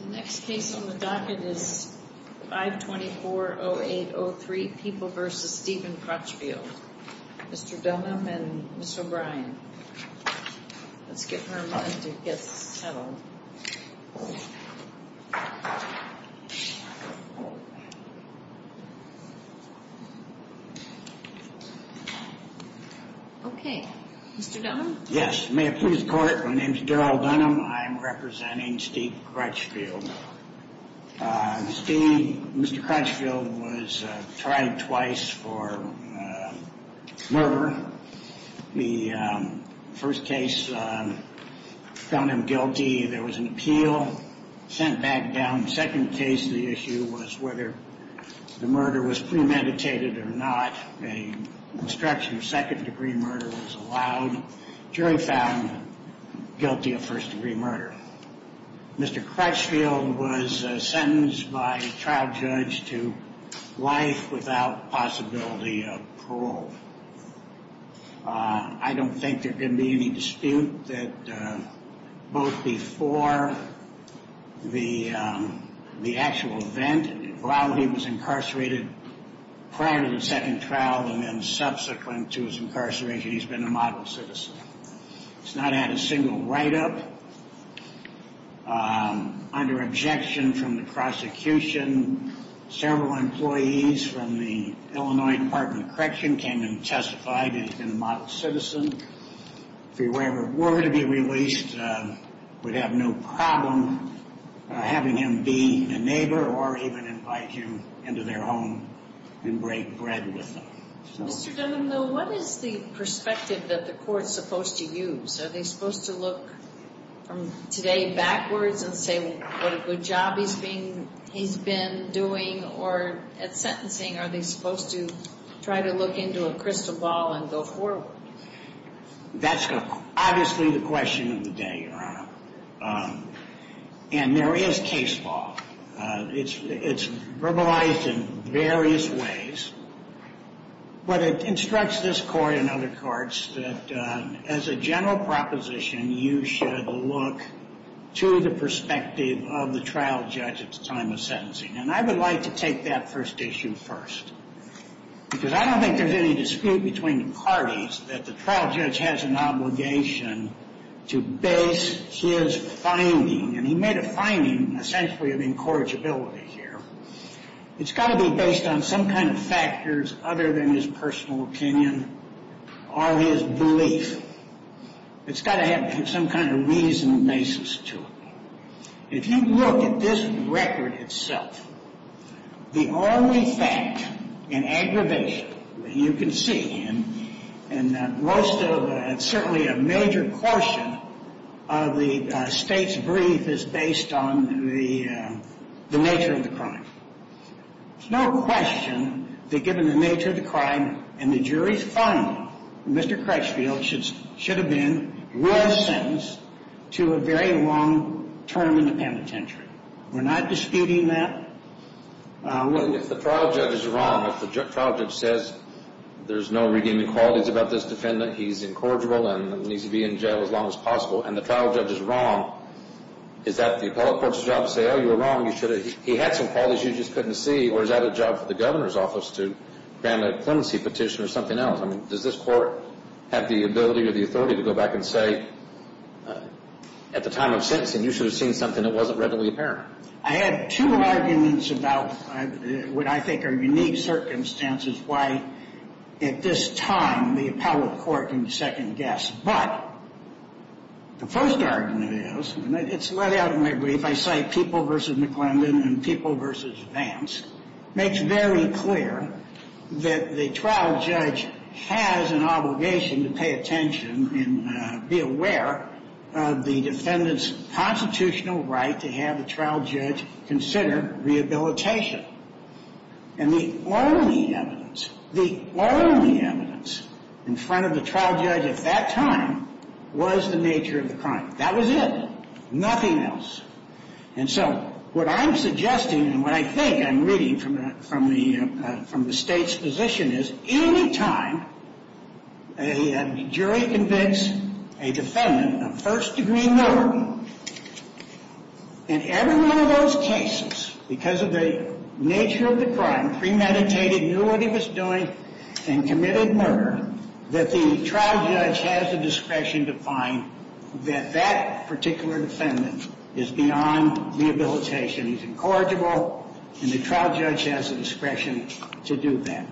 The next case on the docket is 524-0803 People v. Steven Crutchfield. Mr. Dunham and Ms. O'Brien. Let's get her in line to get settled. Okay. Mr. Dunham? Yes. May it please the court, my name is Darryl Dunham. I am representing Steve Crutchfield. Mr. Crutchfield was tried twice for murder. The first case found him guilty. There was an appeal, sent back down. In the second case, the issue was whether the murder was premeditated or not. An obstruction of second degree murder was allowed. The jury found guilty of first degree murder. Mr. Crutchfield was sentenced by a trial judge to life without possibility of parole. I don't think there can be any dispute that both before the actual event, while he was incarcerated prior to the second trial, and then subsequent to his incarceration, he's been a model citizen. He's not had a single write-up. Under objection from the prosecution, several employees from the Illinois Department of Correction came and testified that he's been a model citizen. If he were ever to be released, we'd have no problem having him be a neighbor or even invite him into their home and break bread with them. Mr. Dunham, though, what is the perspective that the court's supposed to use? Are they supposed to look from today backwards and say what a good job he's been doing? Or at sentencing, are they supposed to try to look into a crystal ball and go forward? That's obviously the question of the day, Your Honor. And there is case law. It's verbalized in various ways. But it instructs this court and other courts that as a general proposition, you should look to the perspective of the trial judge at the time of sentencing. And I would like to take that first issue first. Because I don't think there's any dispute between the parties that the trial judge has an obligation to base his finding, and he made a finding essentially of incorrigibility here. It's got to be based on some kind of factors other than his personal opinion or his belief. It's got to have some kind of reason and basis to it. If you look at this record itself, the only fact in aggravation that you can see, and certainly a major portion of the state's brief is based on the nature of the crime. There's no question that given the nature of the crime and the jury's finding, Mr. Crutchfield should have been well sentenced to a very long term in the penitentiary. We're not disputing that. If the trial judge is wrong, if the trial judge says there's no redeeming qualities about this defendant, he's incorrigible and needs to be in jail as long as possible, and the trial judge is wrong, is that the appellate court's job to say, oh, you were wrong, he had some qualities you just couldn't see, or is that a job for the governor's office to grant a clemency petition or something else? I mean, does this court have the ability or the authority to go back and say at the time of sentencing you should have seen something that wasn't readily apparent? I had two arguments about what I think are unique circumstances why at this time the appellate court can second-guess. But the first argument is, and it's laid out in my brief, I cite People v. McClendon and People v. Vance, makes very clear that the trial judge has an obligation to pay attention and be aware of the defendant's constitutional right to have the trial judge consider rehabilitation. And the only evidence, the only evidence in front of the trial judge at that time was the nature of the crime. That was it. Nothing else. And so what I'm suggesting and what I think I'm reading from the State's position is, any time a jury convicts a defendant of first-degree murder, in every one of those cases, because of the nature of the crime, premeditated, knew what he was doing, and committed murder, that the trial judge has the discretion to find that that particular defendant is beyond rehabilitation. He's incorrigible, and the trial judge has the discretion to do that.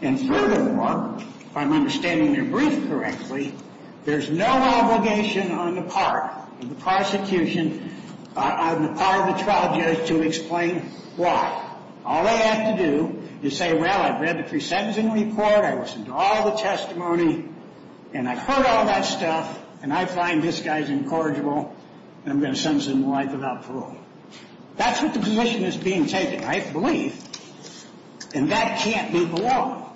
And furthermore, if I'm understanding your brief correctly, there's no obligation on the part of the prosecution, on the part of the trial judge, to explain why. All they have to do is say, well, I've read the pre-sentencing report, I listened to all the testimony, and I've heard all that stuff, and I find this guy's incorrigible, and I'm going to send him to life without parole. That's what the position is being taken. I believe, and that can't be below,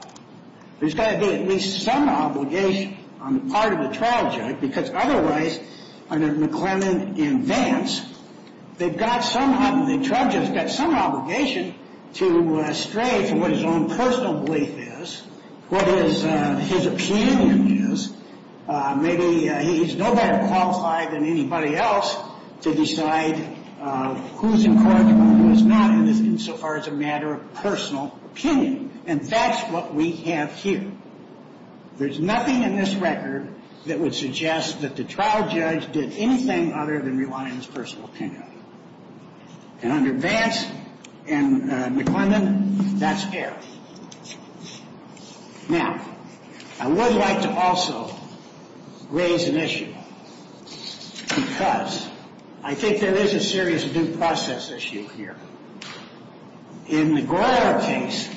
there's got to be at least some obligation on the part of the trial judge, because otherwise, under McClellan and Vance, they've got some obligation to stray from what his own personal belief is, what his opinion is. Maybe he's no better qualified than anybody else to decide who's incorrigible and who's not, insofar as a matter of personal opinion. And that's what we have here. There's nothing in this record that would suggest that the trial judge did anything other than rely on his personal opinion. And under Vance and McClellan, that's fair. Now, I would like to also raise an issue, because I think there is a serious due process issue here. In the Goyer case,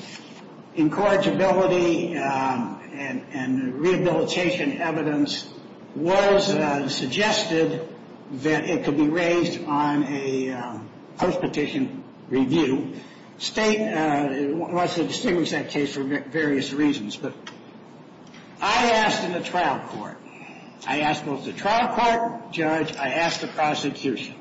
incorrigibility and rehabilitation evidence was suggested that it could be raised on a post-petition review. State wants to distinguish that case for various reasons. But I asked in the trial court, I asked both the trial court judge, I asked the prosecution,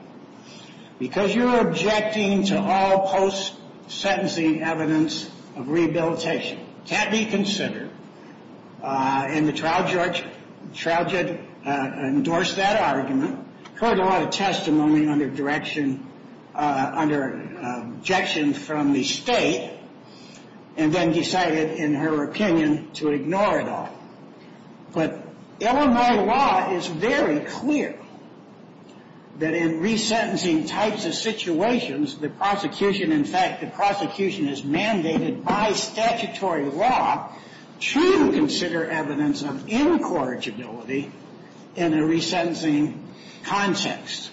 because you're objecting to all post-sentencing evidence of rehabilitation. It can't be considered. And the trial judge endorsed that argument, heard a lot of testimony under objection from the state, and then decided, in her opinion, to ignore it all. But Illinois law is very clear that in resentencing types of situations, the prosecution, in fact, the prosecution is mandated by statutory law to consider evidence of incorrigibility in a resentencing context.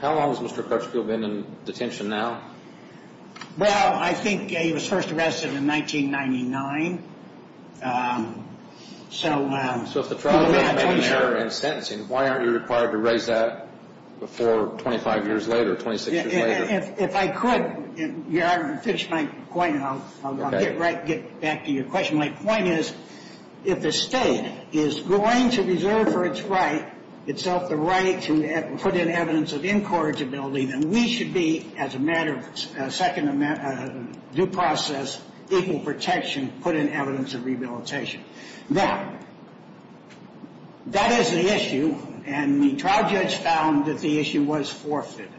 How long has Mr. Crutchfield been in detention now? Well, I think he was first arrested in 1999. So if the trial judge made an error in sentencing, why aren't you required to raise that before 25 years later, 26 years later? If I could, your Honor, to finish my point, I'll get back to your question. My point is, if the state is going to reserve for its right, itself the right to put in evidence of incorrigibility, then we should be, as a matter of second due process, equal protection, put in evidence of rehabilitation. Now, that is the issue, and the trial judge found that the issue was forfeited.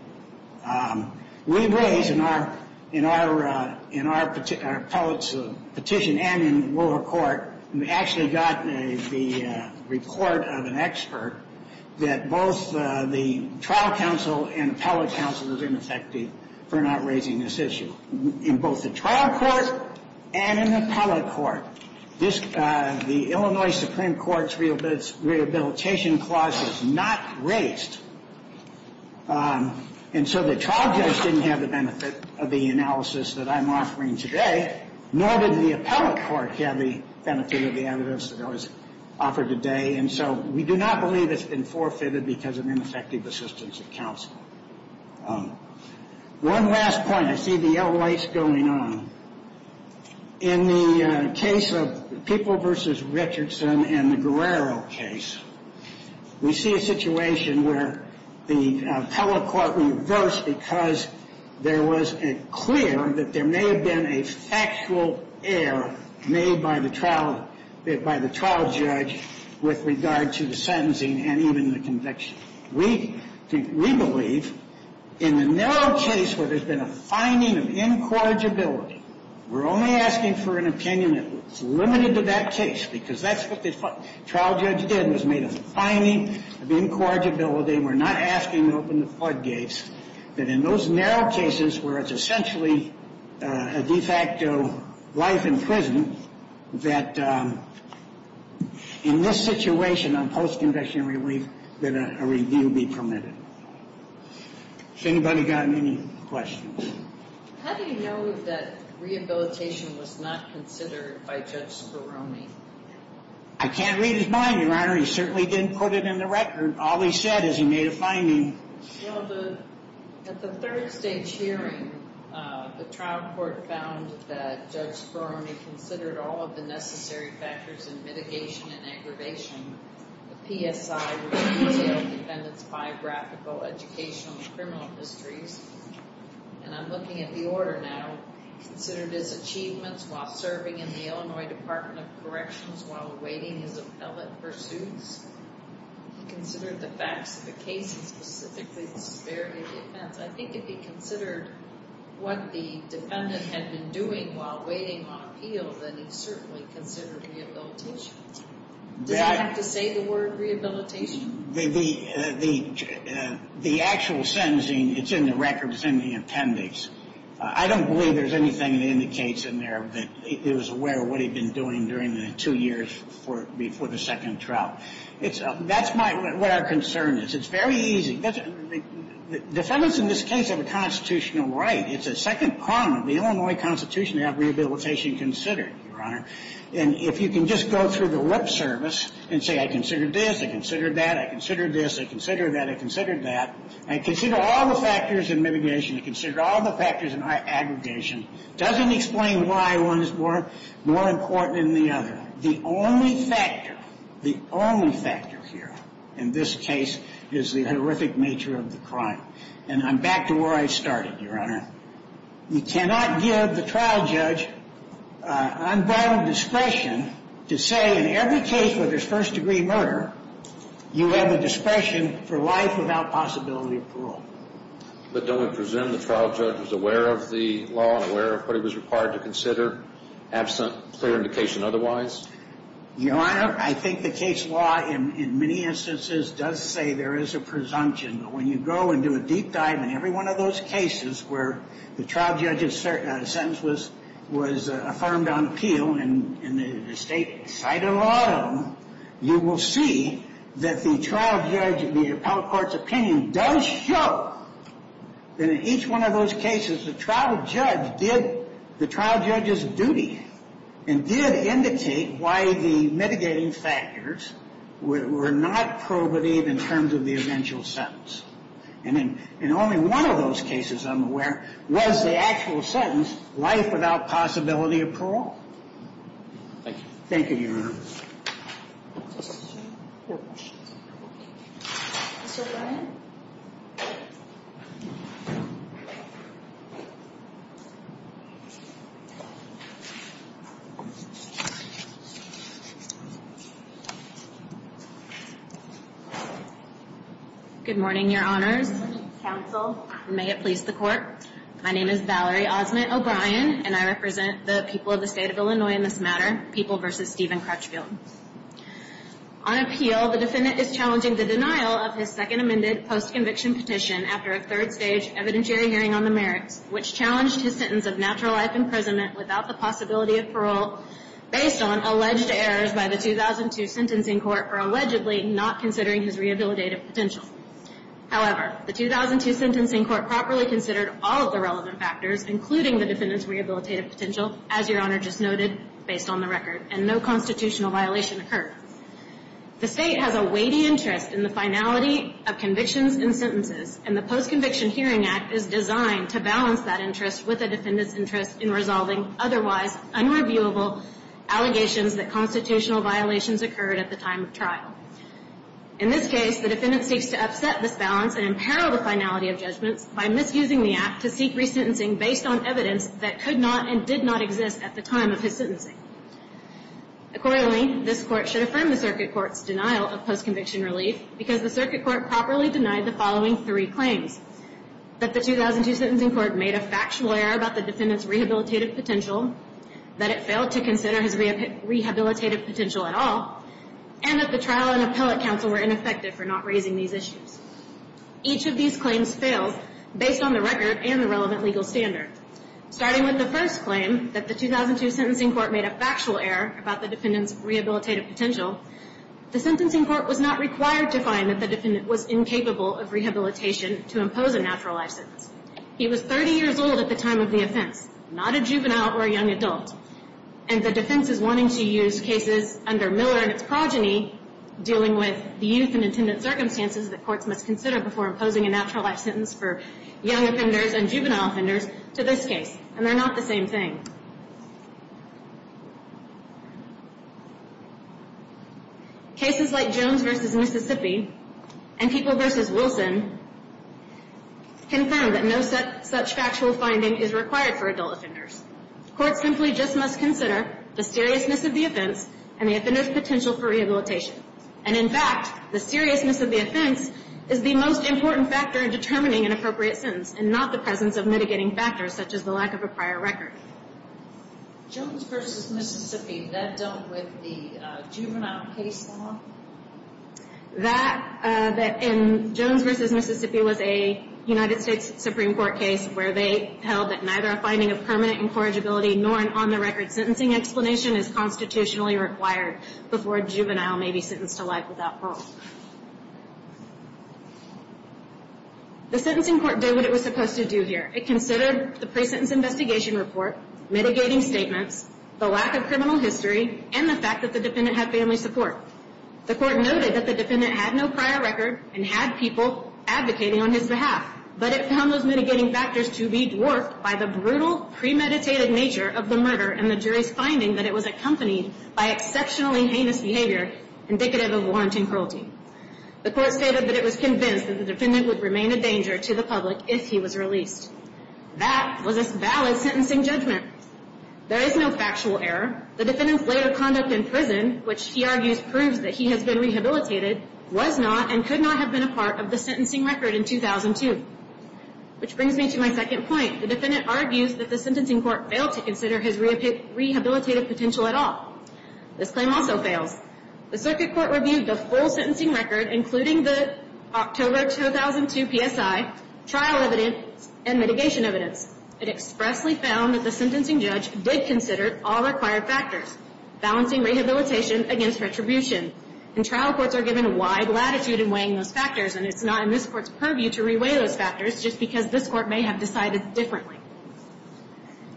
We raised in our petition and in the lower court, we actually got the report of an expert, that both the trial counsel and appellate counsel is ineffective for not raising this issue. In both the trial court and in the appellate court, the Illinois Supreme Court's rehabilitation clause was not raised. And so the trial judge didn't have the benefit of the analysis that I'm offering today, nor did the appellate court have the benefit of the evidence that I was offering today. And so we do not believe it's been forfeited because of ineffective assistance of counsel. One last point. I see the yellow lights going on. In the case of People v. Richardson and the Guerrero case, we see a situation where the appellate court reversed because it was clear that there may have been a factual error made by the trial judge with regard to the sentencing and even the conviction. We believe in the narrow case where there's been a finding of incorrigibility, we're only asking for an opinion that's limited to that case because that's what the trial judge did, was make a finding of incorrigibility, we're not asking to open the floodgates, that in those narrow cases where it's essentially a de facto life in prison, that in this situation on post-conviction relief, that a review be permitted. Has anybody got any questions? How do you know that rehabilitation was not considered by Judge Speroni? I can't read his mind, Your Honor. He certainly didn't put it in the record. All he said is he made a finding. Well, at the third stage hearing, the trial court found that Judge Speroni considered all of the necessary factors in mitigation and aggravation, the PSI, which is the jail defendant's biographical, educational, and criminal histories, and I'm looking at the order now, considered his achievements while serving in the Illinois Department of Corrections while awaiting his appellate pursuits. He considered the facts of the case and specifically the severity of the offense. I think if he considered what the defendant had been doing while waiting on appeal, then he certainly considered rehabilitation. Did I have to say the word rehabilitation? The actual sentencing, it's in the records in the appendix. I don't believe there's anything that indicates in there that he was aware of what he had been doing during the two years before the second trial. That's what our concern is. It's very easy. Defendants in this case have a constitutional right. It's a second prong of the Illinois Constitution to have rehabilitation considered, Your Honor. And if you can just go through the lip service and say I considered this, I considered that, I considered this, I considered that, I considered that, I consider all the factors in mitigation, I consider all the factors in aggregation. It doesn't explain why one is more important than the other. The only factor, the only factor here in this case is the horrific nature of the crime. And I'm back to where I started, Your Honor. You cannot give the trial judge unvalid discretion to say in every case where there's first-degree murder, you have a discretion for life without possibility of parole. But don't we presume the trial judge was aware of the law and aware of what he was required to consider absent clear indication otherwise? Your Honor, I think the case law in many instances does say there is a presumption. But when you go and do a deep dive in every one of those cases where the trial judge's sentence was affirmed on appeal and the state cited a lot of them, you will see that the trial judge, the appellate court's opinion does show that in each one of those cases the trial judge did the trial judge's duty and did indicate why the mitigating factors were not prohibited in terms of the eventual sentence. And in only one of those cases, I'm aware, was the actual sentence life without possibility of parole. Thank you. Thank you, Your Honor. Mr. O'Brien? Good morning, Your Honors. Good morning, counsel. May it please the court. My name is Valerie Osment O'Brien, and I represent the people of the state of Illinois in this matter, people versus Steven Crutchfield. On appeal, the defendant is challenging the denial of his second amended post-conviction petition after a third stage evidentiary hearing on the merits, which challenged his sentence of natural life imprisonment without the possibility of parole based on alleged errors by the 2002 sentencing court for allegedly not considering his rehabilitative potential. However, the 2002 sentencing court properly considered all of the relevant factors, including the defendant's rehabilitative potential, as Your Honor just noted, based on the record, and no constitutional violation occurred. The state has a weighty interest in the finality of convictions and sentences, and the Post-Conviction Hearing Act is designed to balance that interest with the defendant's interest in resolving otherwise unreviewable allegations that constitutional violations occurred at the time of trial. In this case, the defendant seeks to upset this balance and imperil the finality of judgments by misusing the act to seek resentencing based on evidence that could not and did not exist at the time of his sentencing. Accordingly, this Court should affirm the circuit court's denial of post-conviction relief because the circuit court properly denied the following three claims, that the 2002 sentencing court made a factual error about the defendant's rehabilitative potential, that it failed to consider his rehabilitative potential at all, and that the trial and appellate counsel were ineffective for not raising these issues. Each of these claims failed based on the record and the relevant legal standard. Starting with the first claim, that the 2002 sentencing court made a factual error about the defendant's rehabilitative potential, the sentencing court was not required to find that the defendant was incapable of rehabilitation to impose a natural life sentence. He was 30 years old at the time of the offense, not a juvenile or a young adult, and the defense is wanting to use cases under Miller and its progeny dealing with the youth and attendant circumstances that courts must consider before imposing a natural life sentence for young offenders and juvenile offenders to this case, and they're not the same thing. Cases like Jones v. Mississippi and People v. Wilson confirm that no such factual finding is required for adult offenders. Courts simply just must consider the seriousness of the offense and the offender's potential for rehabilitation. And in fact, the seriousness of the offense is the most important factor in determining an appropriate sentence and not the presence of mitigating factors such as the lack of a prior record. That in Jones v. Mississippi was a United States Supreme Court case where they held that neither a finding of permanent incorrigibility nor an on-the-record sentencing explanation is constitutionally required before a juvenile may be sentenced to life without parole. The sentencing court did what it was supposed to do here. It considered the pre-sentence investigation report, mitigating statements, the lack of criminal history, and the fact that the defendant had family support. The court noted that the defendant had no prior record and had people advocating on his behalf, but it found those mitigating factors to be dwarfed by the brutal, premeditated nature of the murder and the jury's finding that it was accompanied by exceptionally heinous behavior indicative of warranting cruelty. The court stated that it was convinced that the defendant would remain a danger to the public if he was released. That was a valid sentencing judgment. There is no factual error. The defendant's later conduct in prison, which he argues proves that he has been rehabilitated, was not and could not have been a part of the sentencing record in 2002. Which brings me to my second point. The defendant argues that the sentencing court failed to consider his rehabilitative potential at all. This claim also fails. The circuit court reviewed the full sentencing record, including the October 2002 PSI, trial evidence, and mitigation evidence. It expressly found that the sentencing judge did consider all required factors, balancing rehabilitation against retribution. And trial courts are given a wide latitude in weighing those factors, and it's not in this court's purview to re-weigh those factors, just because this court may have decided differently.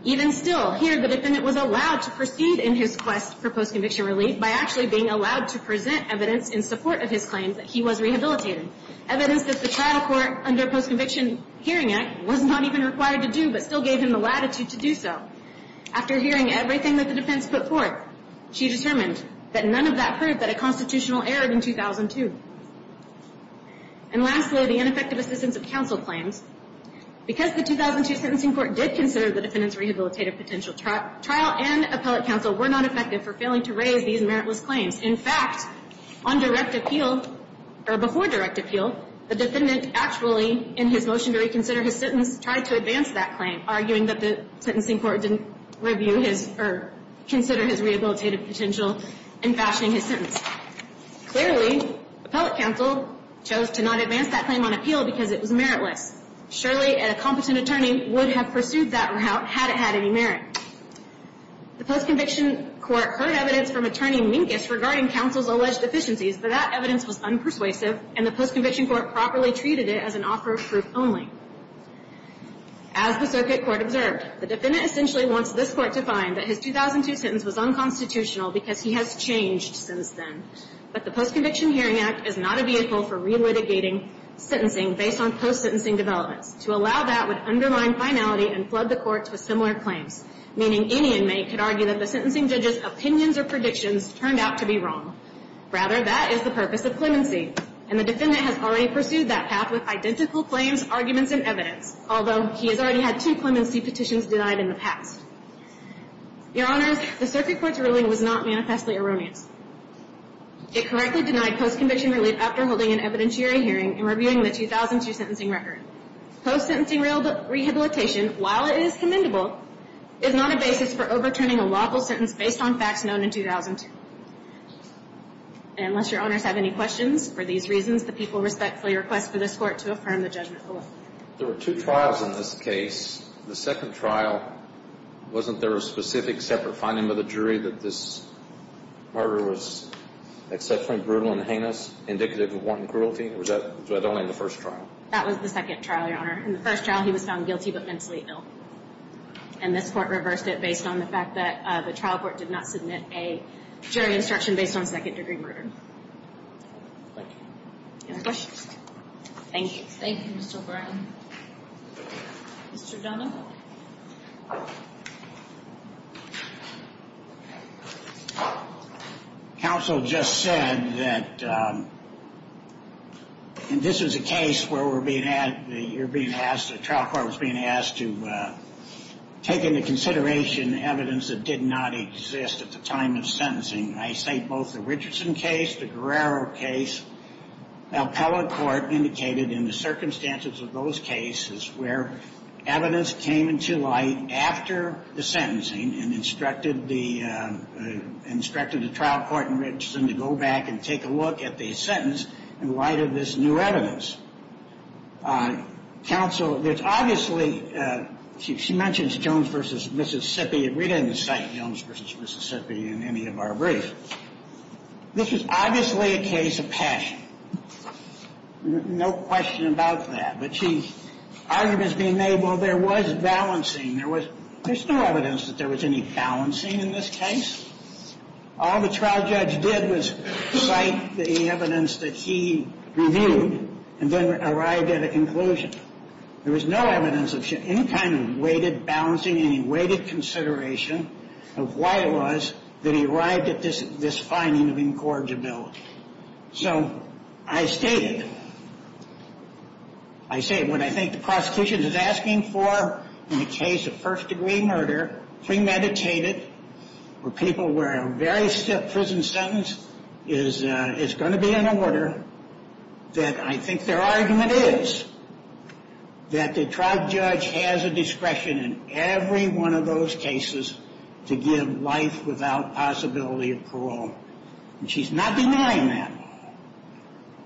Even still, here the defendant was allowed to proceed in his quest for post-conviction relief by actually being allowed to present evidence in support of his claim that he was rehabilitated. Evidence that the trial court under Post-Conviction Hearing Act was not even required to do, but still gave him the latitude to do so. After hearing everything that the defense put forth, she determined that none of that proved that a constitutional error in 2002. And lastly, the ineffective assistance of counsel claims. Because the 2002 sentencing court did consider the defendant's rehabilitative potential, trial and appellate counsel were not effective for failing to raise these meritless claims. In fact, on direct appeal, or before direct appeal, the defendant actually, in his motion to reconsider his sentence, tried to advance that claim, arguing that the sentencing court didn't review his or consider his rehabilitative potential in fashioning his sentence. Clearly, appellate counsel chose to not advance that claim on appeal because it was meritless. Surely, a competent attorney would have pursued that route had it had any merit. The post-conviction court heard evidence from attorney Minkus regarding counsel's alleged deficiencies, but that evidence was unpersuasive, and the post-conviction court properly treated it as an offer of proof only. As the circuit court observed, the defendant essentially wants this court to find that his 2002 sentence was unconstitutional because he has changed since then. But the Post-Conviction Hearing Act is not a vehicle for re-litigating sentencing based on post-sentencing developments. To allow that would undermine finality and flood the courts with similar claims, meaning any inmate could argue that the sentencing judge's opinions or predictions turned out to be wrong. Rather, that is the purpose of clemency, and the defendant has already pursued that path with identical claims, arguments, and evidence, although he has already had two clemency petitions denied in the past. Your Honors, the circuit court's ruling was not manifestly erroneous. It correctly denied post-conviction relief after holding an evidentiary hearing and reviewing the 2002 sentencing record. Post-sentencing rehabilitation, while it is commendable, is not a basis for overturning a lawful sentence based on facts known in 2002. Unless Your Honors have any questions, for these reasons, the people respectfully request for this Court to affirm the judgment. There were two trials in this case. The second trial, wasn't there a specific separate finding by the jury that this murder was exceptionally brutal and heinous, indicative of wanton cruelty? Or was that only in the first trial? That was the second trial, Your Honor. In the first trial, he was found guilty but mentally ill. And this Court reversed it based on the fact that the trial court did not submit a jury instruction based on second-degree murder. Any questions? Thank you. Thank you, Mr. O'Brien. Mr. Donovan. Counsel just said that, and this was a case where we're being asked, the trial court was being asked to take into consideration evidence that did not exist at the time of sentencing. I say both the Richardson case, the Guerrero case. Now, appellate court indicated in the circumstances of those cases where evidence came into light after the sentencing and instructed the trial court in Richardson to go back and take a look at the sentence in light of this new evidence. Counsel, there's obviously, she mentions Jones v. Mississippi. We didn't cite Jones v. Mississippi in any of our briefs. This was obviously a case of passion. No question about that. But she, arguments being made, well, there was balancing. There was, there's no evidence that there was any balancing in this case. All the trial judge did was cite the evidence that he reviewed and then arrived at a conclusion. There was no evidence of any kind of weighted balancing, any weighted consideration of why it was that he arrived at this, this finding of incorrigibility. So I stated, I say what I think the prosecution is asking for in a case of first-degree murder, premeditated, for people where a very stiff prison sentence is, and it's going to be an order that I think their argument is that the trial judge has a discretion in every one of those cases to give life without possibility of parole. And she's not denying that.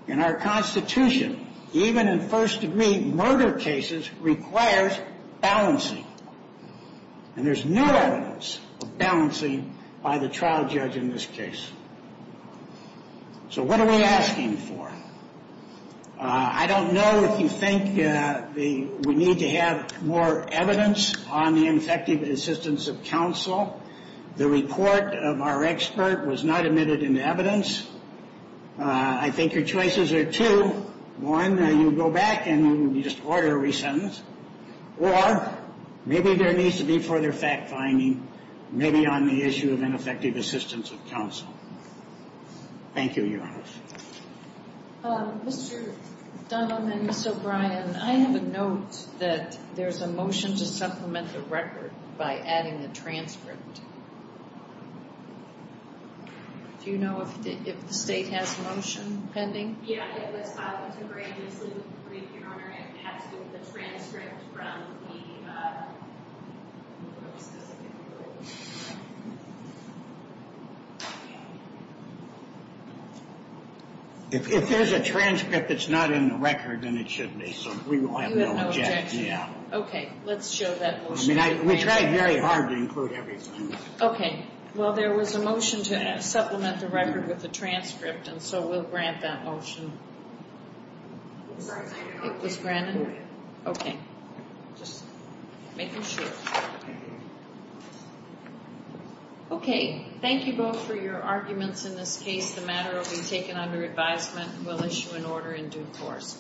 In our Constitution, even in first-degree murder cases, requires balancing. And there's no evidence of balancing by the trial judge in this case. So what are we asking for? I don't know if you think we need to have more evidence on the ineffective assistance of counsel. The report of our expert was not admitted into evidence. I think your choices are two. One, you go back and you just order a re-sentence. Or, maybe there needs to be further fact-finding, maybe on the issue of ineffective assistance of counsel. Thank you, Your Honor. Mr. Dunlap and Ms. O'Brien, I have a note that there's a motion to supplement the record by adding the transcript. Do you know if the state has a motion pending? Yeah, it was filed into grace. And, Your Honor, it has to be the transcript from the... If there's a transcript that's not in the record, then it should be, so we will have no objection. Okay, let's show that motion. I mean, we tried very hard to include everything. Okay. Well, there was a motion to supplement the record with the transcript, and so we'll grant that motion. It was granted? Okay. Just making sure. Okay, thank you both for your arguments in this case. The matter will be taken under advisement, and we'll issue an order in due course.